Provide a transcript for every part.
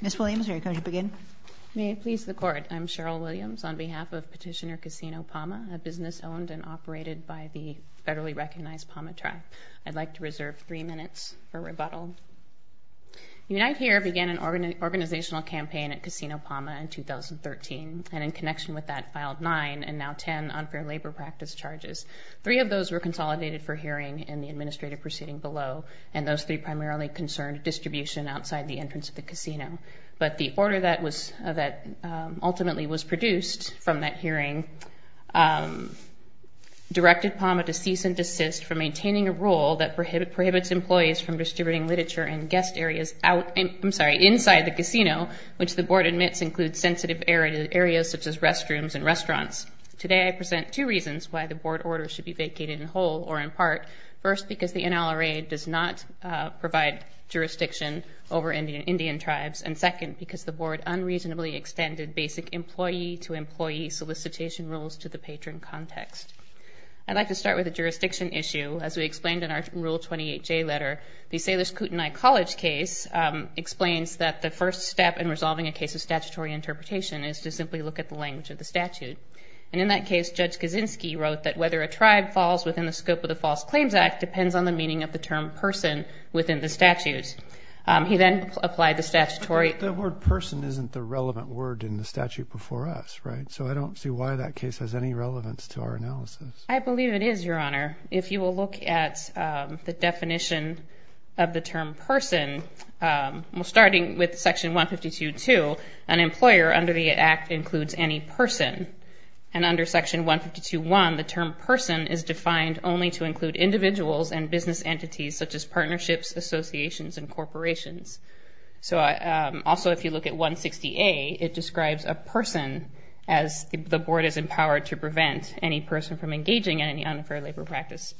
Ms. Williams, are you going to begin? May it please the Court, I'm Cheryl Williams on behalf of Petitioner Casino Pauma, a business owned and operated by the federally recognized Pauma Tribe. I'd like to reserve three minutes for rebuttal. Unite Here began an organizational campaign at Casino Pauma in 2013, and in connection with that, filed nine and now ten unfair labor practice charges. Three of those were consolidated for hearing in the administrative proceeding below, and those three primarily concerned distribution outside the entrance of the casino. But the order that ultimately was produced from that hearing directed Pauma to cease and desist from maintaining a rule that prohibits employees from distributing literature in guest areas inside the casino, which the board admits includes sensitive areas such as restaurants, restrooms, and restaurants. Today, I present two reasons why the board order should be vacated in whole or in part. First, because the NLRA does not provide jurisdiction over Indian tribes, and second, because the board unreasonably extended basic employee-to-employee solicitation rules to the patron context. I'd like to start with a jurisdiction issue. As we explained in our Rule 28J letter, the Salish Kootenai College case explains that the first step in resolving a case of statutory interpretation is to simply look at the language of the statute. And in that case, Judge Kaczynski wrote that whether a tribe falls within the scope of the False Claims Act depends on the meaning of the term person within the statute. He then applied the statutory... The word person isn't the relevant word in the statute before us, right? So I don't see why that case has any relevance to our analysis. I believe it is, Your Honor. If you will look at the definition of the term person, starting with Section 152.2, an employer under the Act includes any person. And under Section 152.1, the term person is defined only to include individuals and business entities such as partnerships, associations, and corporations. So also, if you look at 160A, it describes a person as the board is empowered to prevent any person from engaging in any unfair labor practice.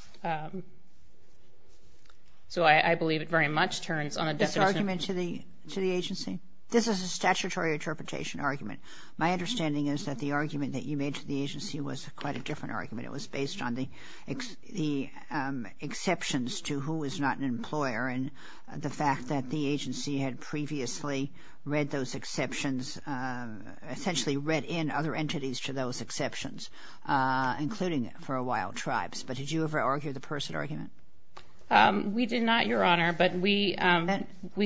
So I believe it very much turns on a definition... This argument to the agency. This is a statutory interpretation argument. My understanding is that the argument that you made to the agency was quite a different argument. It was based on the exceptions to who is not an employer and the fact that the agency had previously read those exceptions, essentially read in other entities to those exceptions, including for a while, tribes. But did you ever argue the person argument? We did not, Your Honor. But we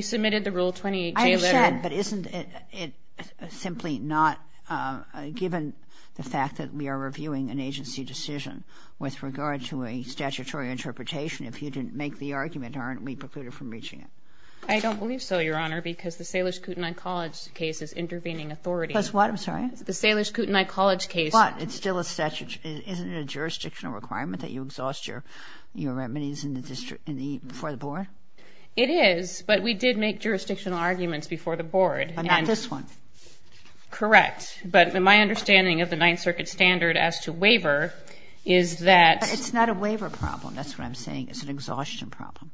submitted the Rule 28J letter... But isn't it simply not, given the fact that we are reviewing an agency decision with regard to a statutory interpretation, if you didn't make the argument, aren't we precluded from reaching it? I don't believe so, Your Honor, because the Salish Kootenai College case is intervening authority. Plus what? I'm sorry? The Salish Kootenai College case... But it's still a statutory... Isn't it a jurisdictional requirement that you exhaust your remedies before the board? It is, but we did make jurisdictional arguments before the board. But not this one. Correct. But my understanding of the Ninth Circuit standard as to waiver is that... It's not a waiver problem. That's what I'm saying. It's an exhaustion problem.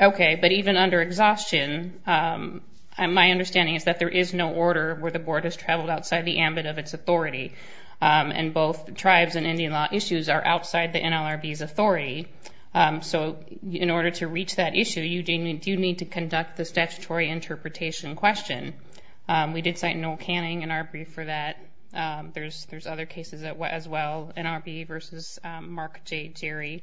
Okay. But even under exhaustion, my understanding is that there is no order where the board has traveled outside the ambit of its authority. And both tribes and Indian law issues are outside the NLRB's authority. So in order to reach that issue, you do need to conduct the statutory interpretation question. We did cite Noel Canning, NLRB, for that. There's other cases as well, NRB versus Mark J. Jerry.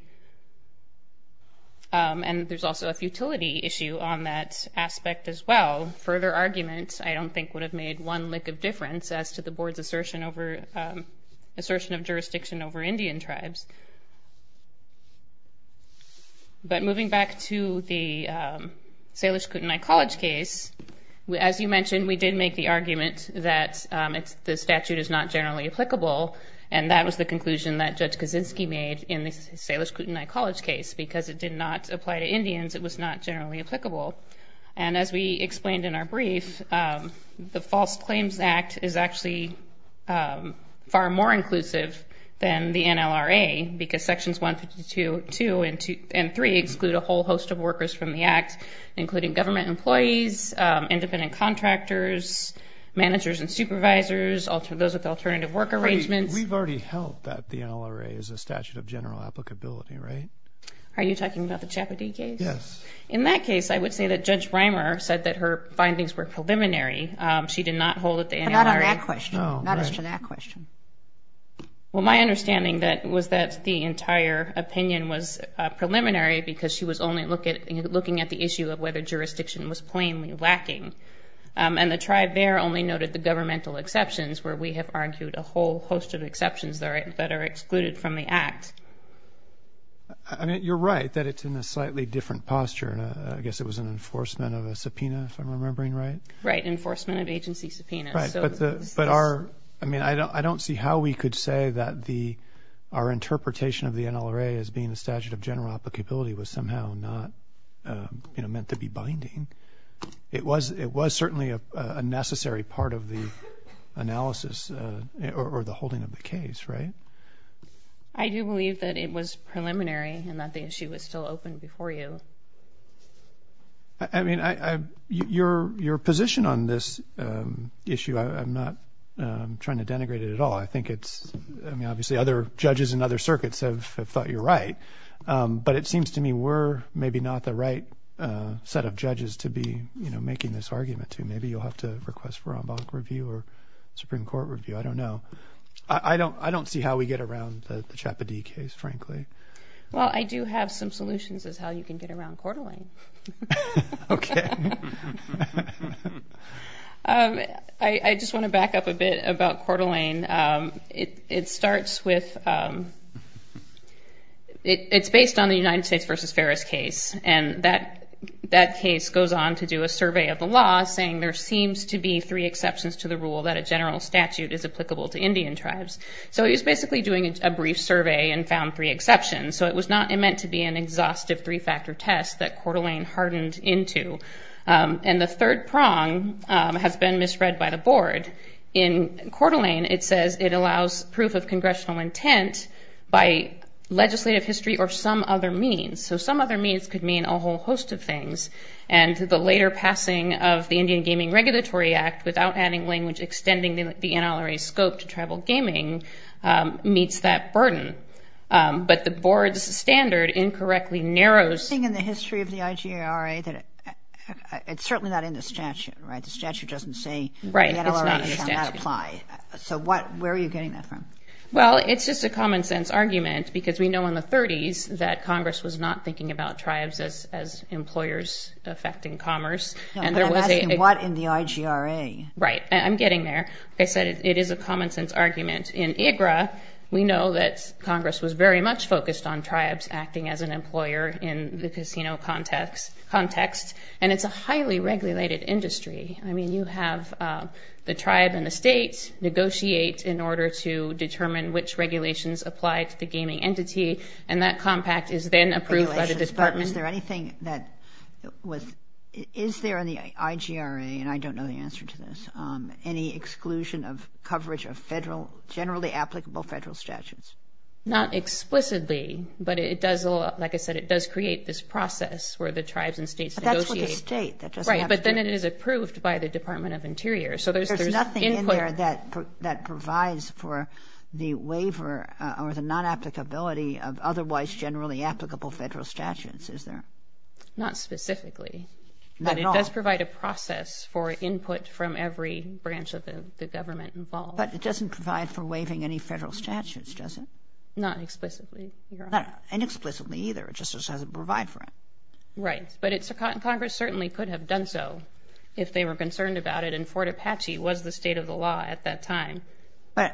And there's also a futility issue on that aspect as well. Further arguments, I don't think, would have made one lick of difference as to the board's assertion of jurisdiction over Indian tribes. But moving back to the Salish Kootenai College case, as you mentioned, we did make the argument that the statute is not generally applicable. And that was the conclusion that Judge Kaczynski made in the Salish Kootenai College case, because it did not apply to Indians. It was not generally applicable. And as we explained in our brief, the False Claims Act is actually far more inclusive than the NLRA. Because Sections 152 and 3 exclude a whole host of workers from the Act, including government employees, independent contractors, managers and supervisors, those with alternative work arrangements. We've already held that the NLRA is a statute of general applicability, right? Are you talking about the Chappadee case? Yes. In that case, I would say that Judge Reimer said that her findings were preliminary. She did not hold that the NLRA... Not on that question. Oh, right. Not as to that question. Well, my understanding was that the entire opinion was preliminary because she was only looking at the issue of whether jurisdiction was plainly lacking. And the tribe there only noted the governmental exceptions, where we have argued a whole host of exceptions that are excluded from the Act. I mean, you're right that it's in a slightly different posture. I guess it was an enforcement of a subpoena, if I'm remembering right. Right. Enforcement of agency subpoenas. Right. But our... I mean, I don't see how we could say that our interpretation of the NLRA as being a statute of general applicability was somehow not meant to be binding. It was certainly a necessary part of the analysis or the holding of the case, right? I do believe that it was preliminary and that the issue was still open before you. I mean, your position on this issue, I'm not trying to denigrate it at all. I think it's... I mean, obviously other judges in other circuits have thought you're right. But it seems to me we're maybe not the right set of judges to be making this argument to. Maybe you'll have to request for en banc review or Supreme Court review. I don't know. I don't see how we get around the Chappadee case, frankly. Well, I do have some solutions as how you can get around Coeur d'Alene. Okay. I just want to back up a bit about Coeur d'Alene. It starts with... It's based on the United States versus Ferris case. And that case goes on to do a survey of the law saying there seems to be three exceptions to the rule that a general statute is applicable to Indian tribes. So he was basically doing a brief survey and found three exceptions. So it was not meant to be an exhaustive three-factor test that Coeur d'Alene hardened into. And the third prong has been misread by the board. In Coeur d'Alene, it says it allows proof of congressional intent by legislative history or some other means. So some other means could mean a whole host of things. And the later passing of the Indian Gaming Regulatory Act, without adding language extending the NLRA scope to tribal gaming, meets that burden. But the board's standard incorrectly narrows... There's a thing in the history of the IGRA that it's certainly not in the statute, right? The statute doesn't say the NLRA shall not apply. Right. It's not in the statute. So where are you getting that from? Well, it's just a common-sense argument because we know in the 30s that Congress was not thinking about tribes as employers affecting commerce. No, but I'm asking what in the IGRA? Right. I'm getting there. Like I said, it is a common-sense argument. In IGRA, we know that Congress was very much focused on tribes acting as an employer in the casino context. And it's a highly regulated industry. I mean, you have the tribe and the state negotiate in order to determine which regulations apply to the gaming entity. And that compact is then approved by the department. Is there anything that was... Is there in the IGRA, and I don't know the answer to this, any exclusion of coverage of generally applicable federal statutes? Not explicitly, but it does, like I said, it does create this process where the tribes and states negotiate. But that's with the state. Right, but then it is approved by the Department of Interior. There's nothing in there that provides for the waiver or the non-applicability of otherwise generally applicable federal statutes, is there? Not specifically. Not at all? But it does provide a process for input from every branch of the government involved. But it doesn't provide for waiving any federal statutes, does it? Not explicitly, Your Honor. Not inexplicably either. It just doesn't provide for it. Right, but Congress certainly could have done so if they were concerned about it, and Fort Apache was the state of the law at that time. But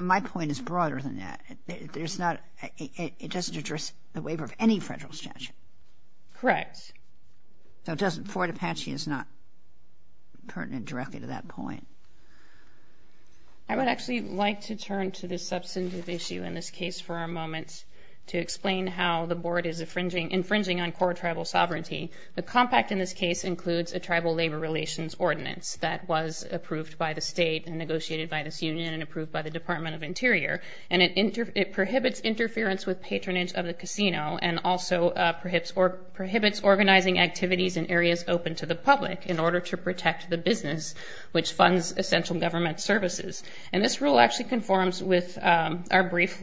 my point is broader than that. It doesn't address the waiver of any federal statute. Correct. So Fort Apache is not pertinent directly to that point. I would actually like to turn to this substantive issue in this case for a moment to explain how the Board is infringing on core tribal sovereignty. The compact in this case includes a Tribal Labor Relations Ordinance that was approved by the state and negotiated by this union and approved by the Department of Interior. And it prohibits interference with patronage of the casino and also prohibits organizing activities in areas open to the public in order to protect the business, which funds essential government services. And this rule actually conforms with our brief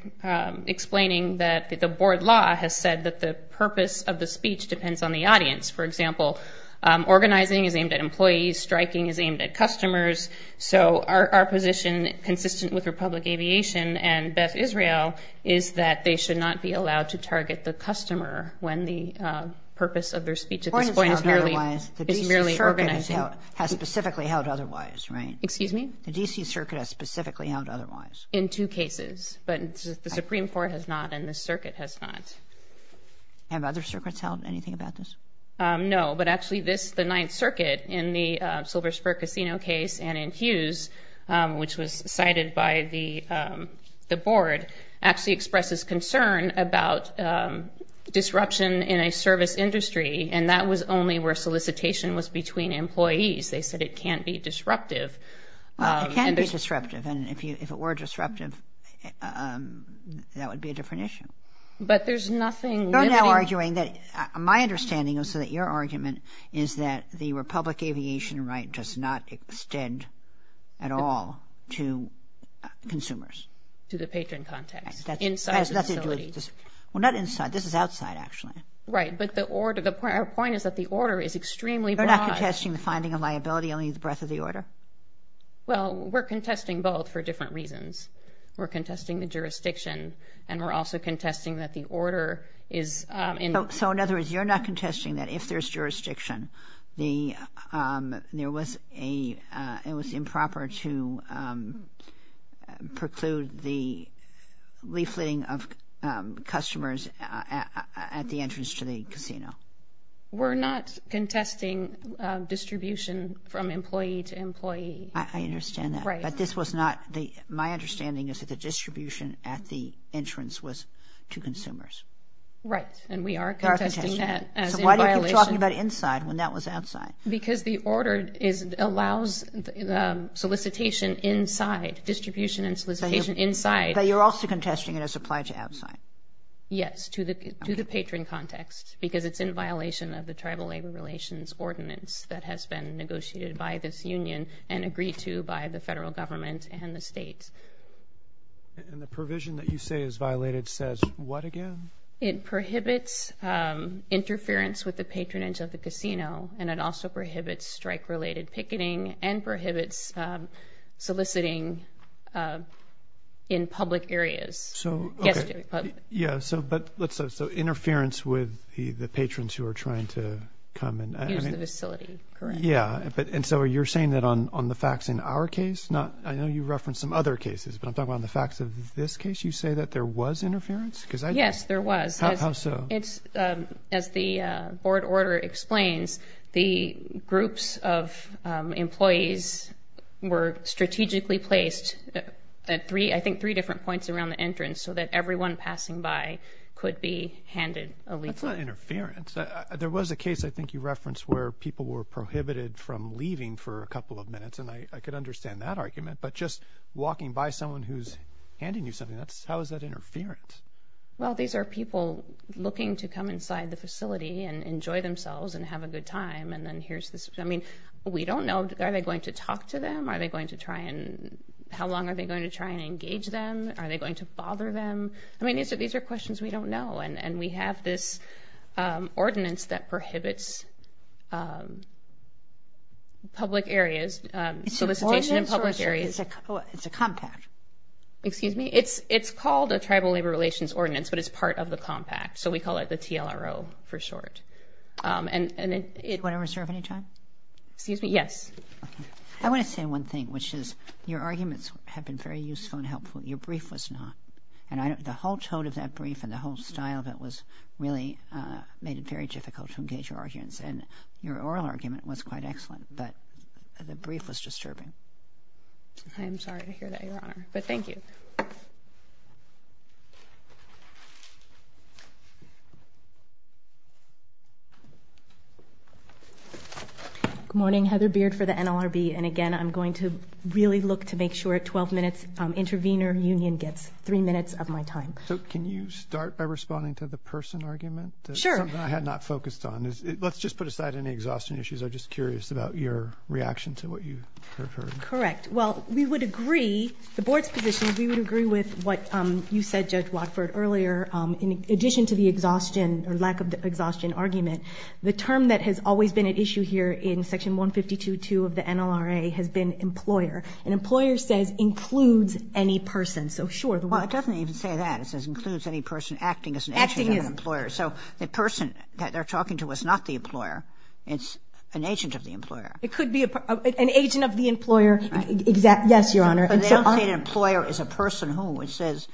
explaining that the Board law has said that the purpose of the speech depends on the audience. For example, organizing is aimed at employees. Striking is aimed at customers. So our position, consistent with Republic Aviation and Beth Israel, is that they should not be allowed to target the customer when the purpose of their speech at this point is merely organizing. The DC Circuit has specifically held otherwise, right? Excuse me? The DC Circuit has specifically held otherwise. In two cases, but the Supreme Court has not and the Circuit has not. Have other circuits held anything about this? No, but actually this, the Ninth Circuit, in the Silver Spur Casino case and in Hughes, which was cited by the Board, actually expresses concern about disruption in a service industry, and that was only where solicitation was between employees. They said it can't be disruptive. It can be disruptive, and if it were disruptive, that would be a different issue. But there's nothing limiting. You're now arguing that, my understanding is that your argument is that the Republic Aviation right does not extend at all to consumers. To the patron context, inside the facility. Well, not inside. This is outside, actually. Right, but the order, our point is that the order is extremely broad. They're not contesting the finding of liability, only the breadth of the order? Well, we're contesting both for different reasons. We're contesting the jurisdiction, and we're also contesting that the order is in. So, in other words, you're not contesting that if there's jurisdiction, there was a, it was improper to preclude the leafleting of customers at the entrance to the casino. We're not contesting distribution from employee to employee. I understand that. Right. But this was not, my understanding is that the distribution at the entrance was to consumers. Right, and we are contesting that as in violation. So why do you keep talking about inside when that was outside? Because the order allows the solicitation inside, distribution and solicitation inside. But you're also contesting it as applied to outside. Yes, to the patron context, because it's in violation of the Tribal Labor Relations Ordinance that has been negotiated by this union, and agreed to by the federal government and the states. And the provision that you say is violated says what again? It prohibits interference with the patronage of the casino, and it also prohibits strike-related picketing and prohibits soliciting in public areas. So, okay. Guest areas. Yeah, so, but let's, so interference with the patrons who are trying to come and, I mean. Use the facility, correct. Yeah, and so you're saying that on the facts in our case, not, I know you referenced some other cases, but I'm talking about on the facts of this case, you say that there was interference? Yes, there was. How so? It's, as the board order explains, the groups of employees were strategically placed at three, I think three different points around the entrance so that everyone passing by could be handed a legal. That's not interference. There was a case, I think you referenced, where people were prohibited from leaving for a couple of minutes, and I could understand that argument, but just walking by someone who's handing you something, how is that interference? Well, these are people looking to come inside the facility and enjoy themselves and have a good time, and then here's this, I mean, we don't know, are they going to talk to them? Are they going to try and, how long are they going to try and engage them? Are they going to bother them? I mean, these are questions we don't know, and we have this ordinance that prohibits public areas, solicitation in public areas. It's an ordinance or it's a compact? Excuse me? It's called a Tribal Labor Relations Ordinance, but it's part of the compact, so we call it the TLRO for short. Do I reserve any time? Excuse me? Yes. I want to say one thing, which is your arguments have been very useful and helpful. Your brief was not. The whole tone of that brief and the whole style of it really made it very difficult to engage your arguments, and your oral argument was quite excellent, but the brief was disturbing. I'm sorry to hear that, Your Honor, but thank you. Good morning. Heather Beard for the NLRB, and again I'm going to really look to make sure at 12 minutes Intervenor Union gets three minutes of my time. So can you start by responding to the person argument? Sure. Something I had not focused on. Let's just put aside any exhaustion issues. I'm just curious about your reaction to what you heard. Correct. Well, we would agree, the Board's position, we would agree with what you said, Judge Watford, earlier. In addition to the exhaustion or lack of exhaustion argument, the term that has always been at issue here in Section 152.2 of the NLRA has been employer, and employer says includes any person. Well, it doesn't even say that. It says includes any person acting as an agent of the employer. So the person that they're talking to is not the employer. It's an agent of the employer. It could be an agent of the employer. Yes, Your Honor. But they don't say an employer is a person who. It says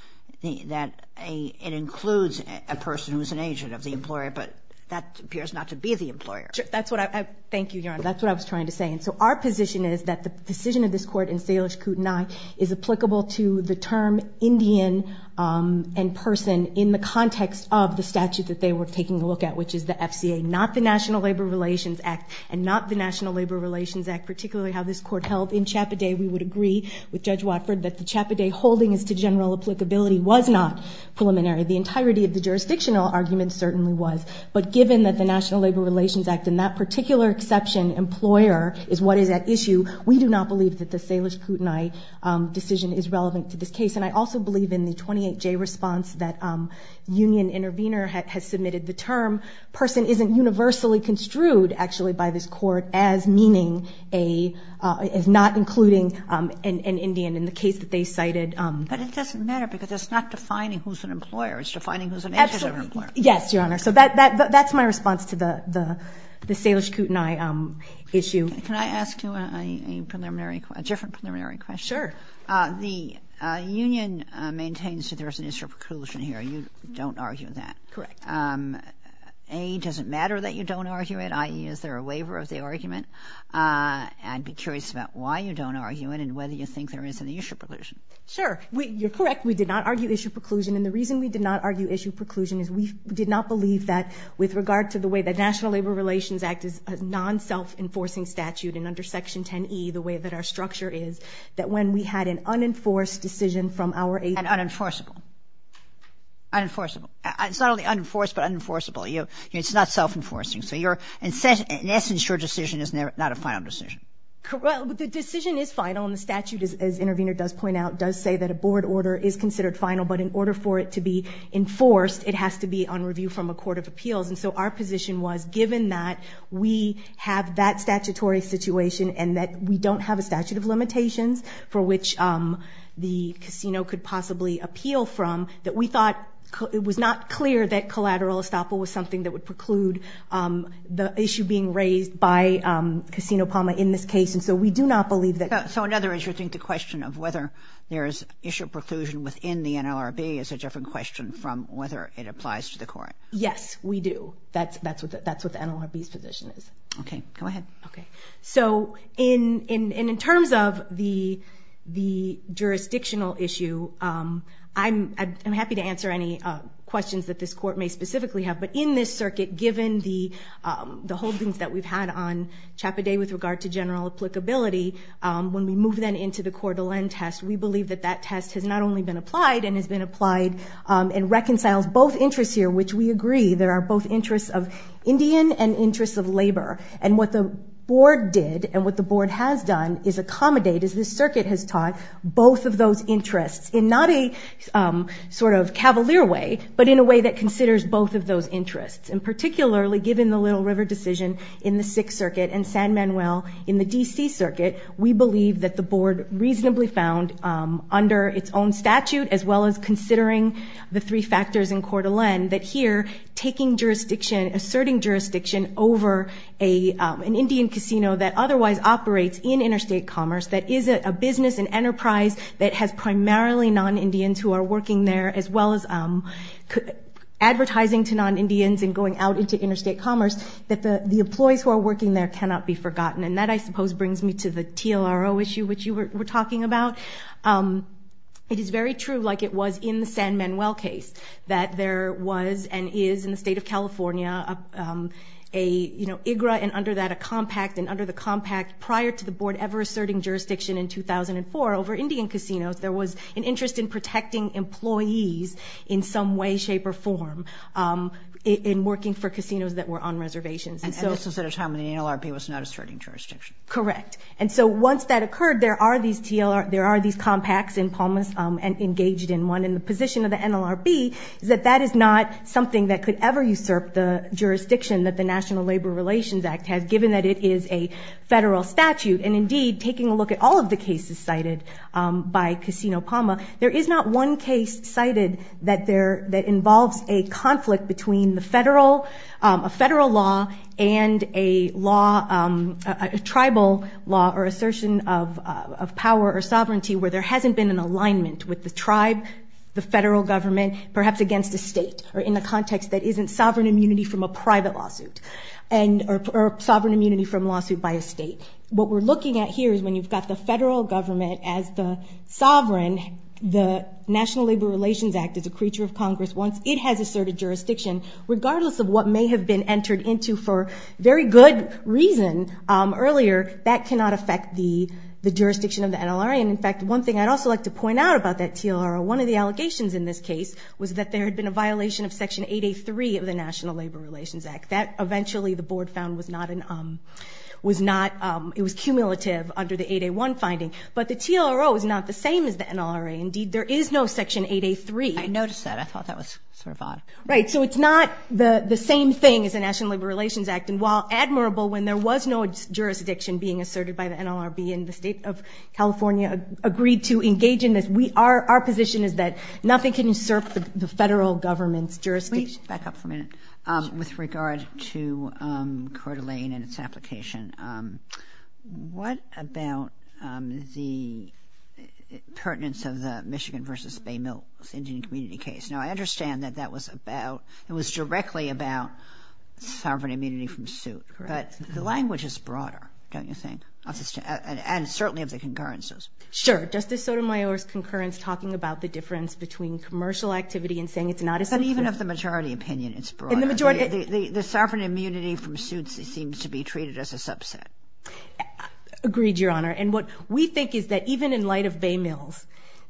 that it includes a person who is an agent of the employer, but that appears not to be the employer. Thank you, Your Honor. That's what I was trying to say. So our position is that the decision of this Court in Salish-Kootenai is applicable to the term Indian and person in the context of the statute that they were taking a look at, which is the FCA, not the National Labor Relations Act, and not the National Labor Relations Act, particularly how this Court held in Chappaday. We would agree with Judge Watford that the Chappaday holding as to general applicability was not preliminary. The entirety of the jurisdictional argument certainly was, but given that the National Labor Relations Act and that particular exception, employer, is what is at issue, we do not believe that the Salish-Kootenai decision is relevant to this case. And I also believe in the 28J response that Union Intervenor has submitted the term person isn't universally construed, actually, by this Court as not including an Indian in the case that they cited. But it doesn't matter because it's not defining who's an employer. It's defining who's an agent of an employer. Yes, Your Honor. So that's my response to the Salish-Kootenai issue. Can I ask you a different preliminary question? Sure. The union maintains that there's an issue of preclusion here. You don't argue that. Correct. A, does it matter that you don't argue it, i.e., is there a waiver of the argument? I'd be curious about why you don't argue it and whether you think there is an issue of preclusion. Sure. We did not argue issue of preclusion, and the reason we did not argue issue of preclusion is we did not believe that with regard to the way the National Labor Relations Act is a non-self-enforcing statute and under Section 10e, the way that our structure is, that when we had an unenforced decision from our agency And unenforceable. Unenforceable. It's not only unenforced but unenforceable. It's not self-enforcing. So in essence, your decision is not a final decision. Well, the decision is final, and the statute, as Intervenor does point out, does say that a board order is considered final, but in order for it to be enforced, it has to be on review from a court of appeals. And so our position was, given that we have that statutory situation and that we don't have a statute of limitations for which the casino could possibly appeal from, that we thought it was not clear that collateral estoppel was something that would preclude the issue being raised by Casino Palma in this case. And so we do not believe that. So another issue, I think, the question of whether there is issue of preclusion within the NLRB is a different question from whether it applies to the court. Yes, we do. That's what the NLRB's position is. Okay. Go ahead. Okay. So in terms of the jurisdictional issue, I'm happy to answer any questions that this court may specifically have, but in this circuit, given the holdings that we've had on Chappaday with regard to general applicability, when we move, then, into the Coeur d'Alene test, we believe that that test has not only been applied and has been applied and reconciles both interests here, which we agree there are both interests of Indian and interests of labor. And what the board did and what the board has done is accommodate, as this circuit has taught, both of those interests, in not a sort of cavalier way, but in a way that considers both of those interests. And particularly, given the Little River decision in the Sixth Circuit and San Manuel in the D.C. Circuit, we believe that the board reasonably found, under its own statute, as well as considering the three factors in Coeur d'Alene, that here, taking jurisdiction, asserting jurisdiction over an Indian casino that otherwise operates in interstate commerce, that is a business, an enterprise, that has primarily non-Indians who are working there, as well as advertising to non-Indians and going out into interstate commerce, that the employees who are working there cannot be forgotten. And that, I suppose, brings me to the TLRO issue, which you were talking about. It is very true, like it was in the San Manuel case, that there was and is, in the state of California, an IGRA, and under that, a compact. And under the compact, prior to the board ever asserting jurisdiction in 2004 over Indian casinos, there was an interest in protecting employees in some way, shape, or form in working for casinos that were on reservations. And this was at a time when the NLRB was not asserting jurisdiction. Correct. And so once that occurred, there are these compacts in Palmas, and engaged in one. And the position of the NLRB is that that is not something that could ever usurp the jurisdiction that the National Labor Relations Act has, given that it is a federal statute. And indeed, taking a look at all of the cases cited by Casino Palma, there is not one case cited that involves a conflict between a federal law and a tribal law, or assertion of power or sovereignty, where there hasn't been an alignment with the tribe, the federal government, perhaps against a state, or in the context that isn't sovereign immunity from a private lawsuit, or sovereign immunity from a lawsuit by a state. What we're looking at here is when you've got the National Labor Relations Act is a creature of Congress. Once it has asserted jurisdiction, regardless of what may have been entered into for very good reason earlier, that cannot affect the jurisdiction of the NLRA. And in fact, one thing I'd also like to point out about that TLRO, one of the allegations in this case was that there had been a violation of Section 8A3 of the National Labor Relations Act. Eventually, the board found it was cumulative under the 8A1 finding. But the TLRO is not the same as the NLRA. Indeed, there is no Section 8A3. I noticed that. I thought that was sort of odd. Right, so it's not the same thing as the National Labor Relations Act. And while admirable when there was no jurisdiction being asserted by the NLRB, and the state of California agreed to engage in this, our position is that nothing can assert the federal government's jurisdiction. Can we back up for a minute? With regard to Coeur d'Alene and its application, what about the pertinence of the Michigan v. Bay Mills Indian community case? Now, I understand that that was about, it was directly about sovereign immunity from suit. Correct. But the language is broader, don't you think? And certainly of the concurrences. Sure. Justice Sotomayor's concurrence talking about the difference between commercial activity and saying it's not a subset. And even of the majority opinion, it's broader. The sovereign immunity from suits seems to be treated as a subset. Agreed, Your Honor. And what we think is that even in light of Bay Mills,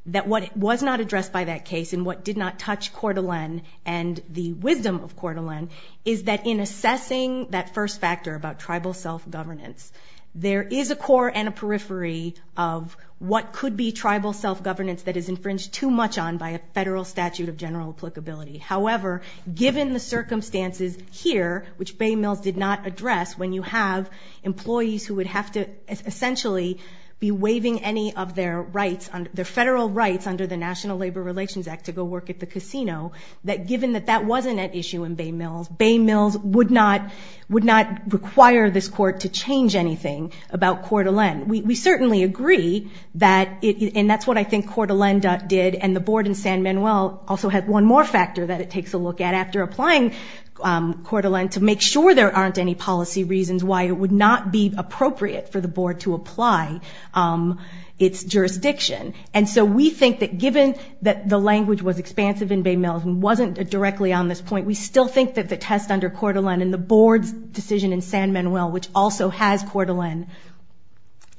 that what was not addressed by that case and what did not touch Coeur d'Alene and the wisdom of Coeur d'Alene is that in assessing that first factor about tribal self-governance, there is a core and a periphery of what could be tribal self-governance that is infringed too much on by a federal statute of general applicability. However, given the circumstances here, which Bay Mills did not address, when you have employees who would have to essentially be waiving any of their rights, their federal rights, under the National Labor Relations Act to go work at the casino, that given that that wasn't at issue in Bay Mills, Bay Mills would not require this court to change anything about Coeur d'Alene. We certainly agree that, and that's what I think Coeur d'Alene did, and the board in San Manuel also had one more factor that it takes a look at after applying Coeur d'Alene to make sure there aren't any policy reasons why it would not be appropriate for the board to apply its jurisdiction. And so we think that, given that the language was expansive in Bay Mills and wasn't directly on this point, we still think that the test under Coeur d'Alene and the board's decision in San Manuel, which also has Coeur d'Alene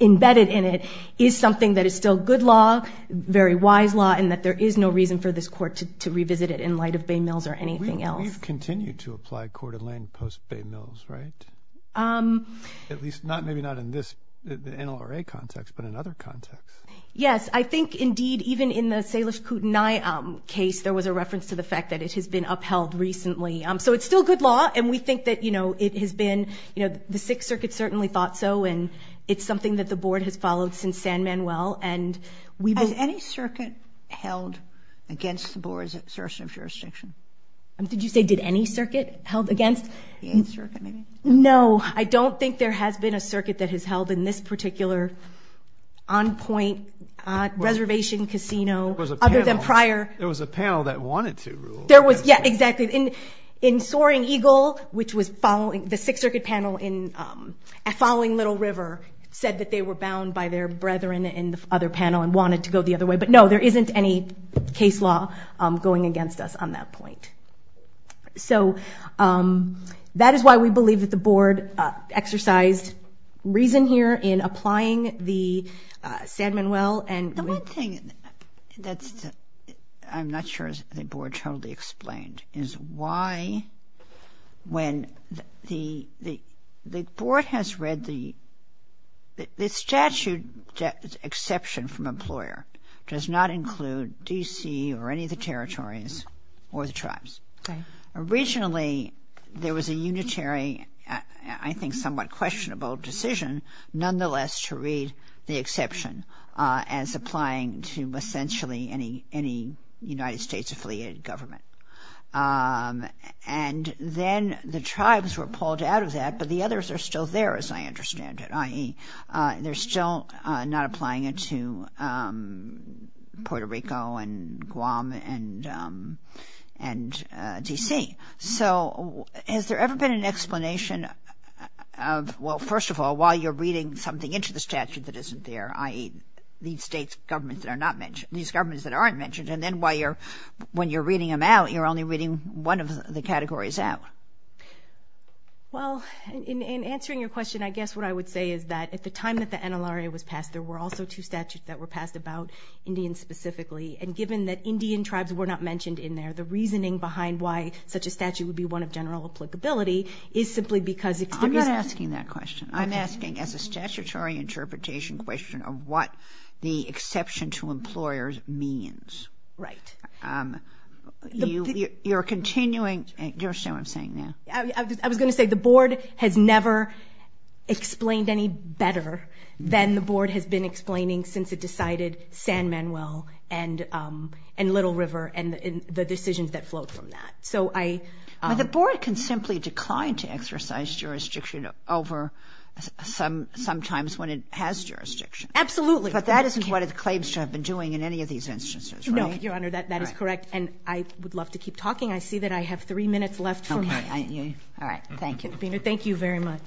embedded in it, is something that is still good law, very wise law, and that there is no reason for this court to revisit it in light of Bay Mills or anything else. We've continued to apply Coeur d'Alene post-Bay Mills, right? At least, maybe not in this NLRA context, but in other contexts. Yes, I think, indeed, even in the Salish Kootenai case, there was a reference to the fact that it has been upheld recently. So it's still good law, and we think that it has been, the Sixth Circuit certainly thought so, and it's something that the board has followed since San Manuel. Has any circuit held against the board's assertion of jurisdiction? Did you say, did any circuit held against? The Eighth Circuit, maybe? No, I don't think there has been a circuit that has held in this particular on-point reservation casino, other than prior... There was a panel that wanted to rule. Yeah, exactly. In Soaring Eagle, which was following, the Sixth Circuit panel following Little River, said that they were bound by their brethren in the other panel and wanted to go the other way. But no, there isn't any case law going against us on that point. So that is why we believe that the board exercised reason here in applying the San Manuel and... The one thing that I'm not sure the board totally explained is why when the board has read the... The statute exception from employer does not include D.C. or any of the territories or the tribes. Originally, there was a unitary, I think somewhat questionable decision nonetheless to read the exception as applying to essentially any United States-affiliated government. And then the tribes were pulled out of that, but the others are still there as I understand it, they're still not applying it to Puerto Rico and Guam and D.C. So has there ever been an explanation of, well, first of all, why you're reading something into the statute that isn't there, i.e. these states' governments that are not mentioned, these governments that aren't mentioned, and then when you're reading them out, you're only reading one of the categories out. Well, in answering your question, I guess what I would say is that at the time that the NLRA was passed, there were also two statutes that were passed about Indians specifically, and given that Indian tribes were not mentioned in there, the reasoning behind why such a statute would be one of general applicability is simply because it's... I'm not asking that question. I'm asking as a statutory interpretation question of what the exception to employers means. Right. You're continuing... Do you understand what I'm saying now? I was going to say the Board has never explained any better than the Board has been explaining since it decided San Manuel and Little River and the decisions that flowed from that. So I... But the Board can simply decline to exercise jurisdiction over sometimes when it has jurisdiction. Absolutely. But that isn't what it claims to have been doing in any of these instances, right? No, Your Honor, that is correct, and I would love to keep talking. I see that I have three minutes left for my... All right, thank you. Thank you very much.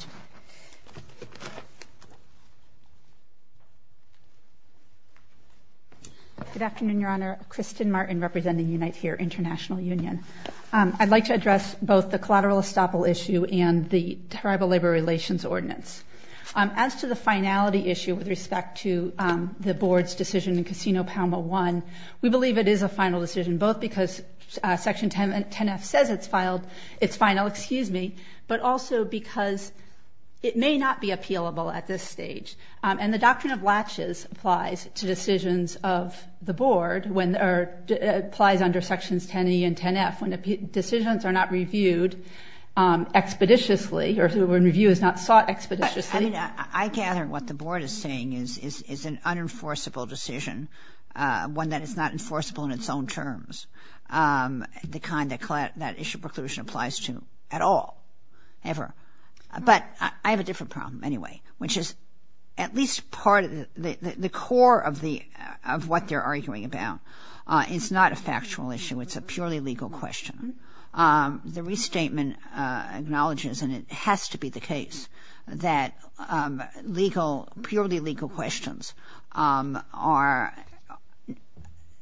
Good afternoon, Your Honor. Kristen Martin representing UNITE HERE International Union. I'd like to address both the collateral estoppel issue and the Tribal Labor Relations Ordinance. As to the finality issue with respect to the Board's decision in Casino Palmo I, we believe it is a final decision both because Section 10F says it's final, excuse me, but also because it may not be appealable at this stage. And the doctrine of latches applies to decisions of the Board when it applies under Sections 10E and 10F when decisions are not reviewed expeditiously or when review is not sought expeditiously. I mean, I gather what the Board is saying is an unenforceable decision, one that is not enforceable in its own terms, the kind that issue preclusion applies to at all, ever. But I have a different problem anyway, which is at least part of the core of what they're arguing about. It's not a factual issue. It's a purely legal question. The restatement acknowledges, and it has to be the case, that purely legal questions are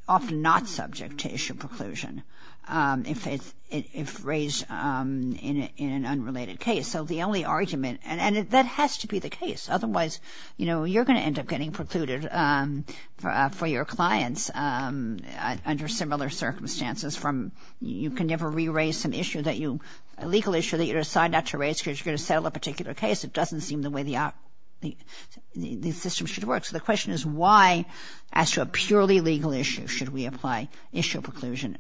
often not subject to issue preclusion if raised in an unrelated case. So the only argument, and that has to be the case, otherwise you're going to end up getting precluded for your clients under similar circumstances from you can never re-raise an issue that you, a legal issue that you decide not to raise because you're going to settle a particular case. It doesn't seem the way the system should work. So the question is why, as to a purely legal issue, should we apply issue preclusion,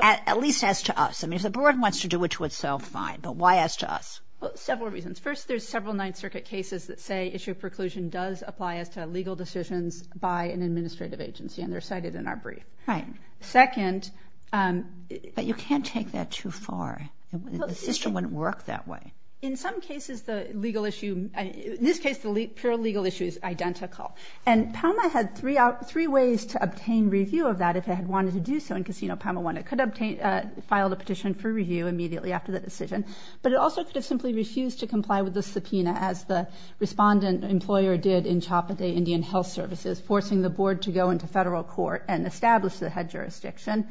at least as to us? I mean, if the Board wants to do it to itself, fine, but why as to us? Well, several reasons. First, there's several Ninth Circuit cases that say issue preclusion does apply as to legal decisions by an administrative agency, and they're cited in our brief. Right. Second... But you can't take that too far. The system wouldn't work that way. In some cases, the legal issue, in this case, the pure legal issue is identical. And Palma had three ways to obtain review of that if it had wanted to do so in Casino Palma I. It could have filed a petition for review immediately after the decision, but it also could have simply refused to comply with the subpoena, as the respondent employer did in Chappaday Indian Health Services, forcing the Board to go into federal court and establish the head jurisdiction.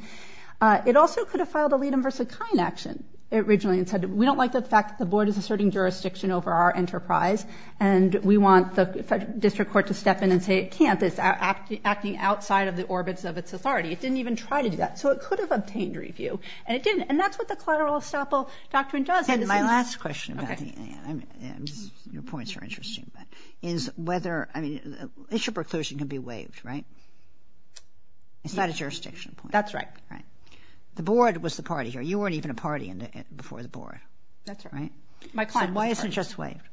It also could have filed a lead-in-versa-kind action, originally, and said, we don't like the fact that the Board is asserting jurisdiction over our enterprise, and we want the district court to step in and say it can't. It's acting outside of the orbits of its authority. It didn't even try to do that. So it could have obtained review, and it didn't. And that's what the collateral estoppel doctrine does. And my last question about the... Your points are interesting. Is whether... I mean, issue preclusion can be waived, right? It's not a jurisdiction point. That's right. The Board was the party here. You weren't even a party before the Board. That's right. My client was a party. So why isn't it just waived?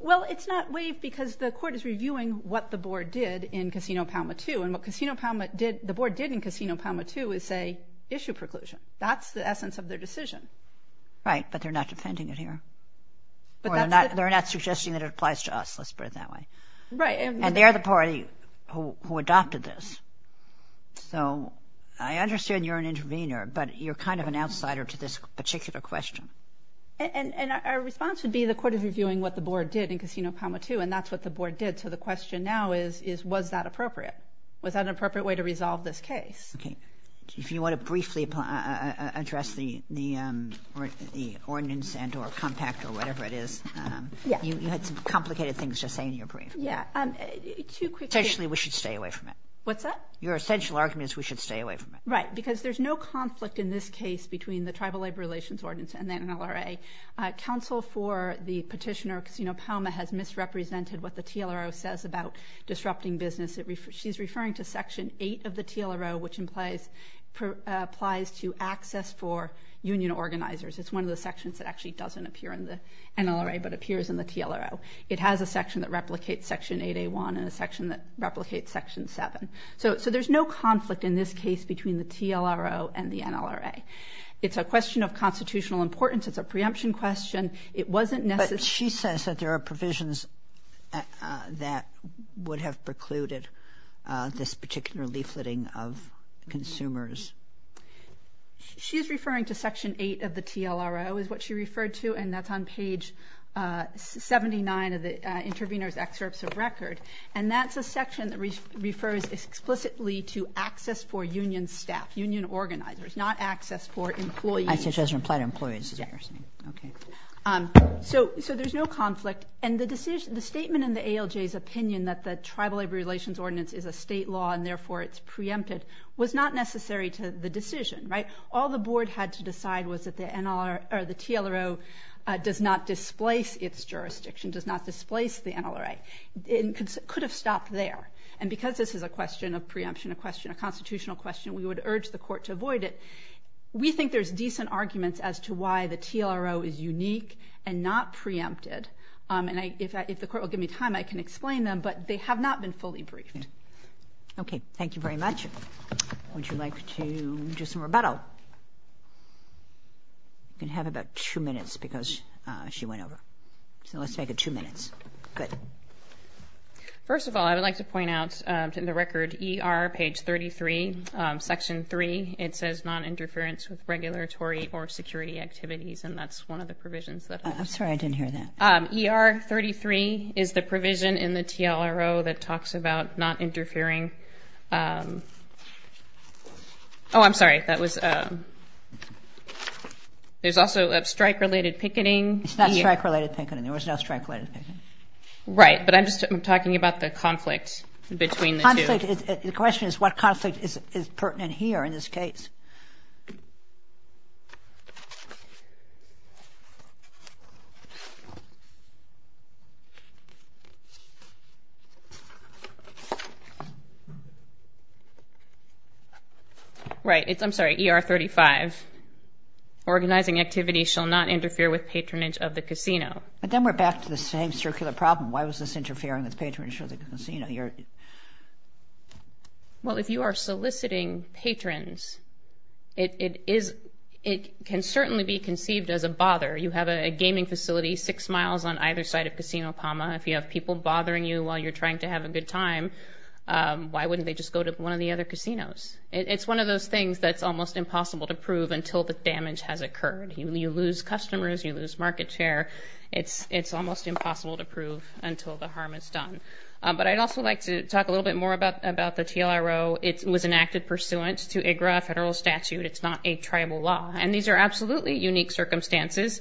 Well, it's not waived because the Court is reviewing what the Board did in Casino Palma II. And what the Board did in Casino Palma II is say, issue preclusion. That's the essence of their decision. Right, but they're not defending it here. Or they're not suggesting that it applies to us. Let's put it that way. And they're the party who adopted this. So I understand you're an intervener, but you're kind of an outsider to this particular question. And our response would be the Court is reviewing what the Board did in Casino Palma II, and that's what the Board did. So the question now is, was that appropriate? Was that an appropriate way to resolve this case? Okay. If you want to briefly address the ordinance and or compact or whatever it is, you had some complicated things to say in your brief. Yeah. Potentially, we should stay away from it. What's that? Your essential argument is we should stay away from it. Right, because there's no conflict in this case between the Tribal Labor Relations Ordinance and the NLRA. Counsel for the petitioner, Casino Palma, has misrepresented what the TLRO says about disrupting business. She's referring to Section 8 of the TLRO, which applies to access for union organizers. It's one of the sections that actually doesn't appear in the NLRA but appears in the TLRO. It has a section that replicates Section 8A1 and a section that replicates Section 7. So there's no conflict in this case between the TLRO and the NLRA. It's a question of constitutional importance. It's a preemption question. It wasn't necessary. But she says that there are provisions that would have precluded this particular leafleting of consumers. She's referring to Section 8 of the TLRO is what she referred to, and that's on page 79 of the intervener's excerpts of record, and that's a section that refers explicitly to access for union staff, union organizers, not access for employees. Access doesn't apply to employees, is what you're saying. Yeah. Okay. So there's no conflict, and the statement in the ALJ's opinion that the Tribal Labor Relations Ordinance is a state law and therefore it's preempted was not necessary to the decision, right? All the board had to decide was that the TLRO does not displace its jurisdiction, does not displace the NLRA. It could have stopped there. And because this is a question of preemption, a question of constitutional question, we would urge the Court to avoid it. We think there's decent arguments as to why the TLRO is unique and not preempted. And if the Court will give me time, I can explain them. But they have not been fully briefed. Okay. Thank you very much. Would you like to do some rebuttal? You can have about two minutes because she went over. So let's make it two minutes. Good. First of all, I would like to point out in the record, ER page 33, Section 3, it says noninterference with regulatory or security activities, and that's one of the provisions. I'm sorry. I didn't hear that. ER 33 is the provision in the TLRO that talks about not interfering. Oh, I'm sorry. There's also strike-related picketing. It's not strike-related picketing. There was no strike-related picketing. Right. But I'm just talking about the conflict between the two. The question is what conflict is pertinent here in this case. Right. I'm sorry. ER 35, organizing activities shall not interfere with patronage of the casino. But then we're back to the same circular problem. Why was this interfering with patronage of the casino? Well, if you are soliciting patrons, it can certainly be conceived as a bother. You have a gaming facility six miles on either side of Casino Palma. If you have people bothering you while you're trying to have a good time, why wouldn't they just go to one of the other casinos? It's one of those things that's almost impossible to prove until the damage has occurred. You lose customers. You lose market share. It's almost impossible to prove until the harm is done. But I'd also like to talk a little bit more about the TLRO. It was enacted pursuant to IGRA federal statute. It's not a tribal law. And these are absolutely unique circumstances.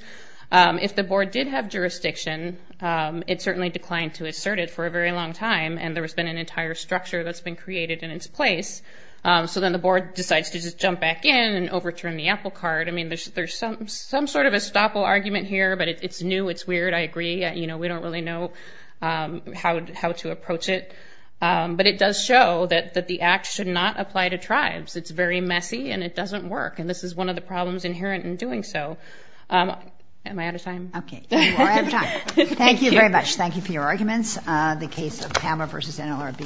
If the board did have jurisdiction, it certainly declined to assert it for a very long time, and there has been an entire structure that's been created in its place. So then the board decides to just jump back in and overturn the apple cart. I mean, there's some sort of estoppel argument here, but it's new. It's weird. I agree. We don't really know how to approach it. But it does show that the act should not apply to tribes. It's very messy, and it doesn't work. And this is one of the problems inherent in doing so. Am I out of time? Okay. You are out of time. Thank you very much. Thank you for your arguments. The case of Palma v. NLRB.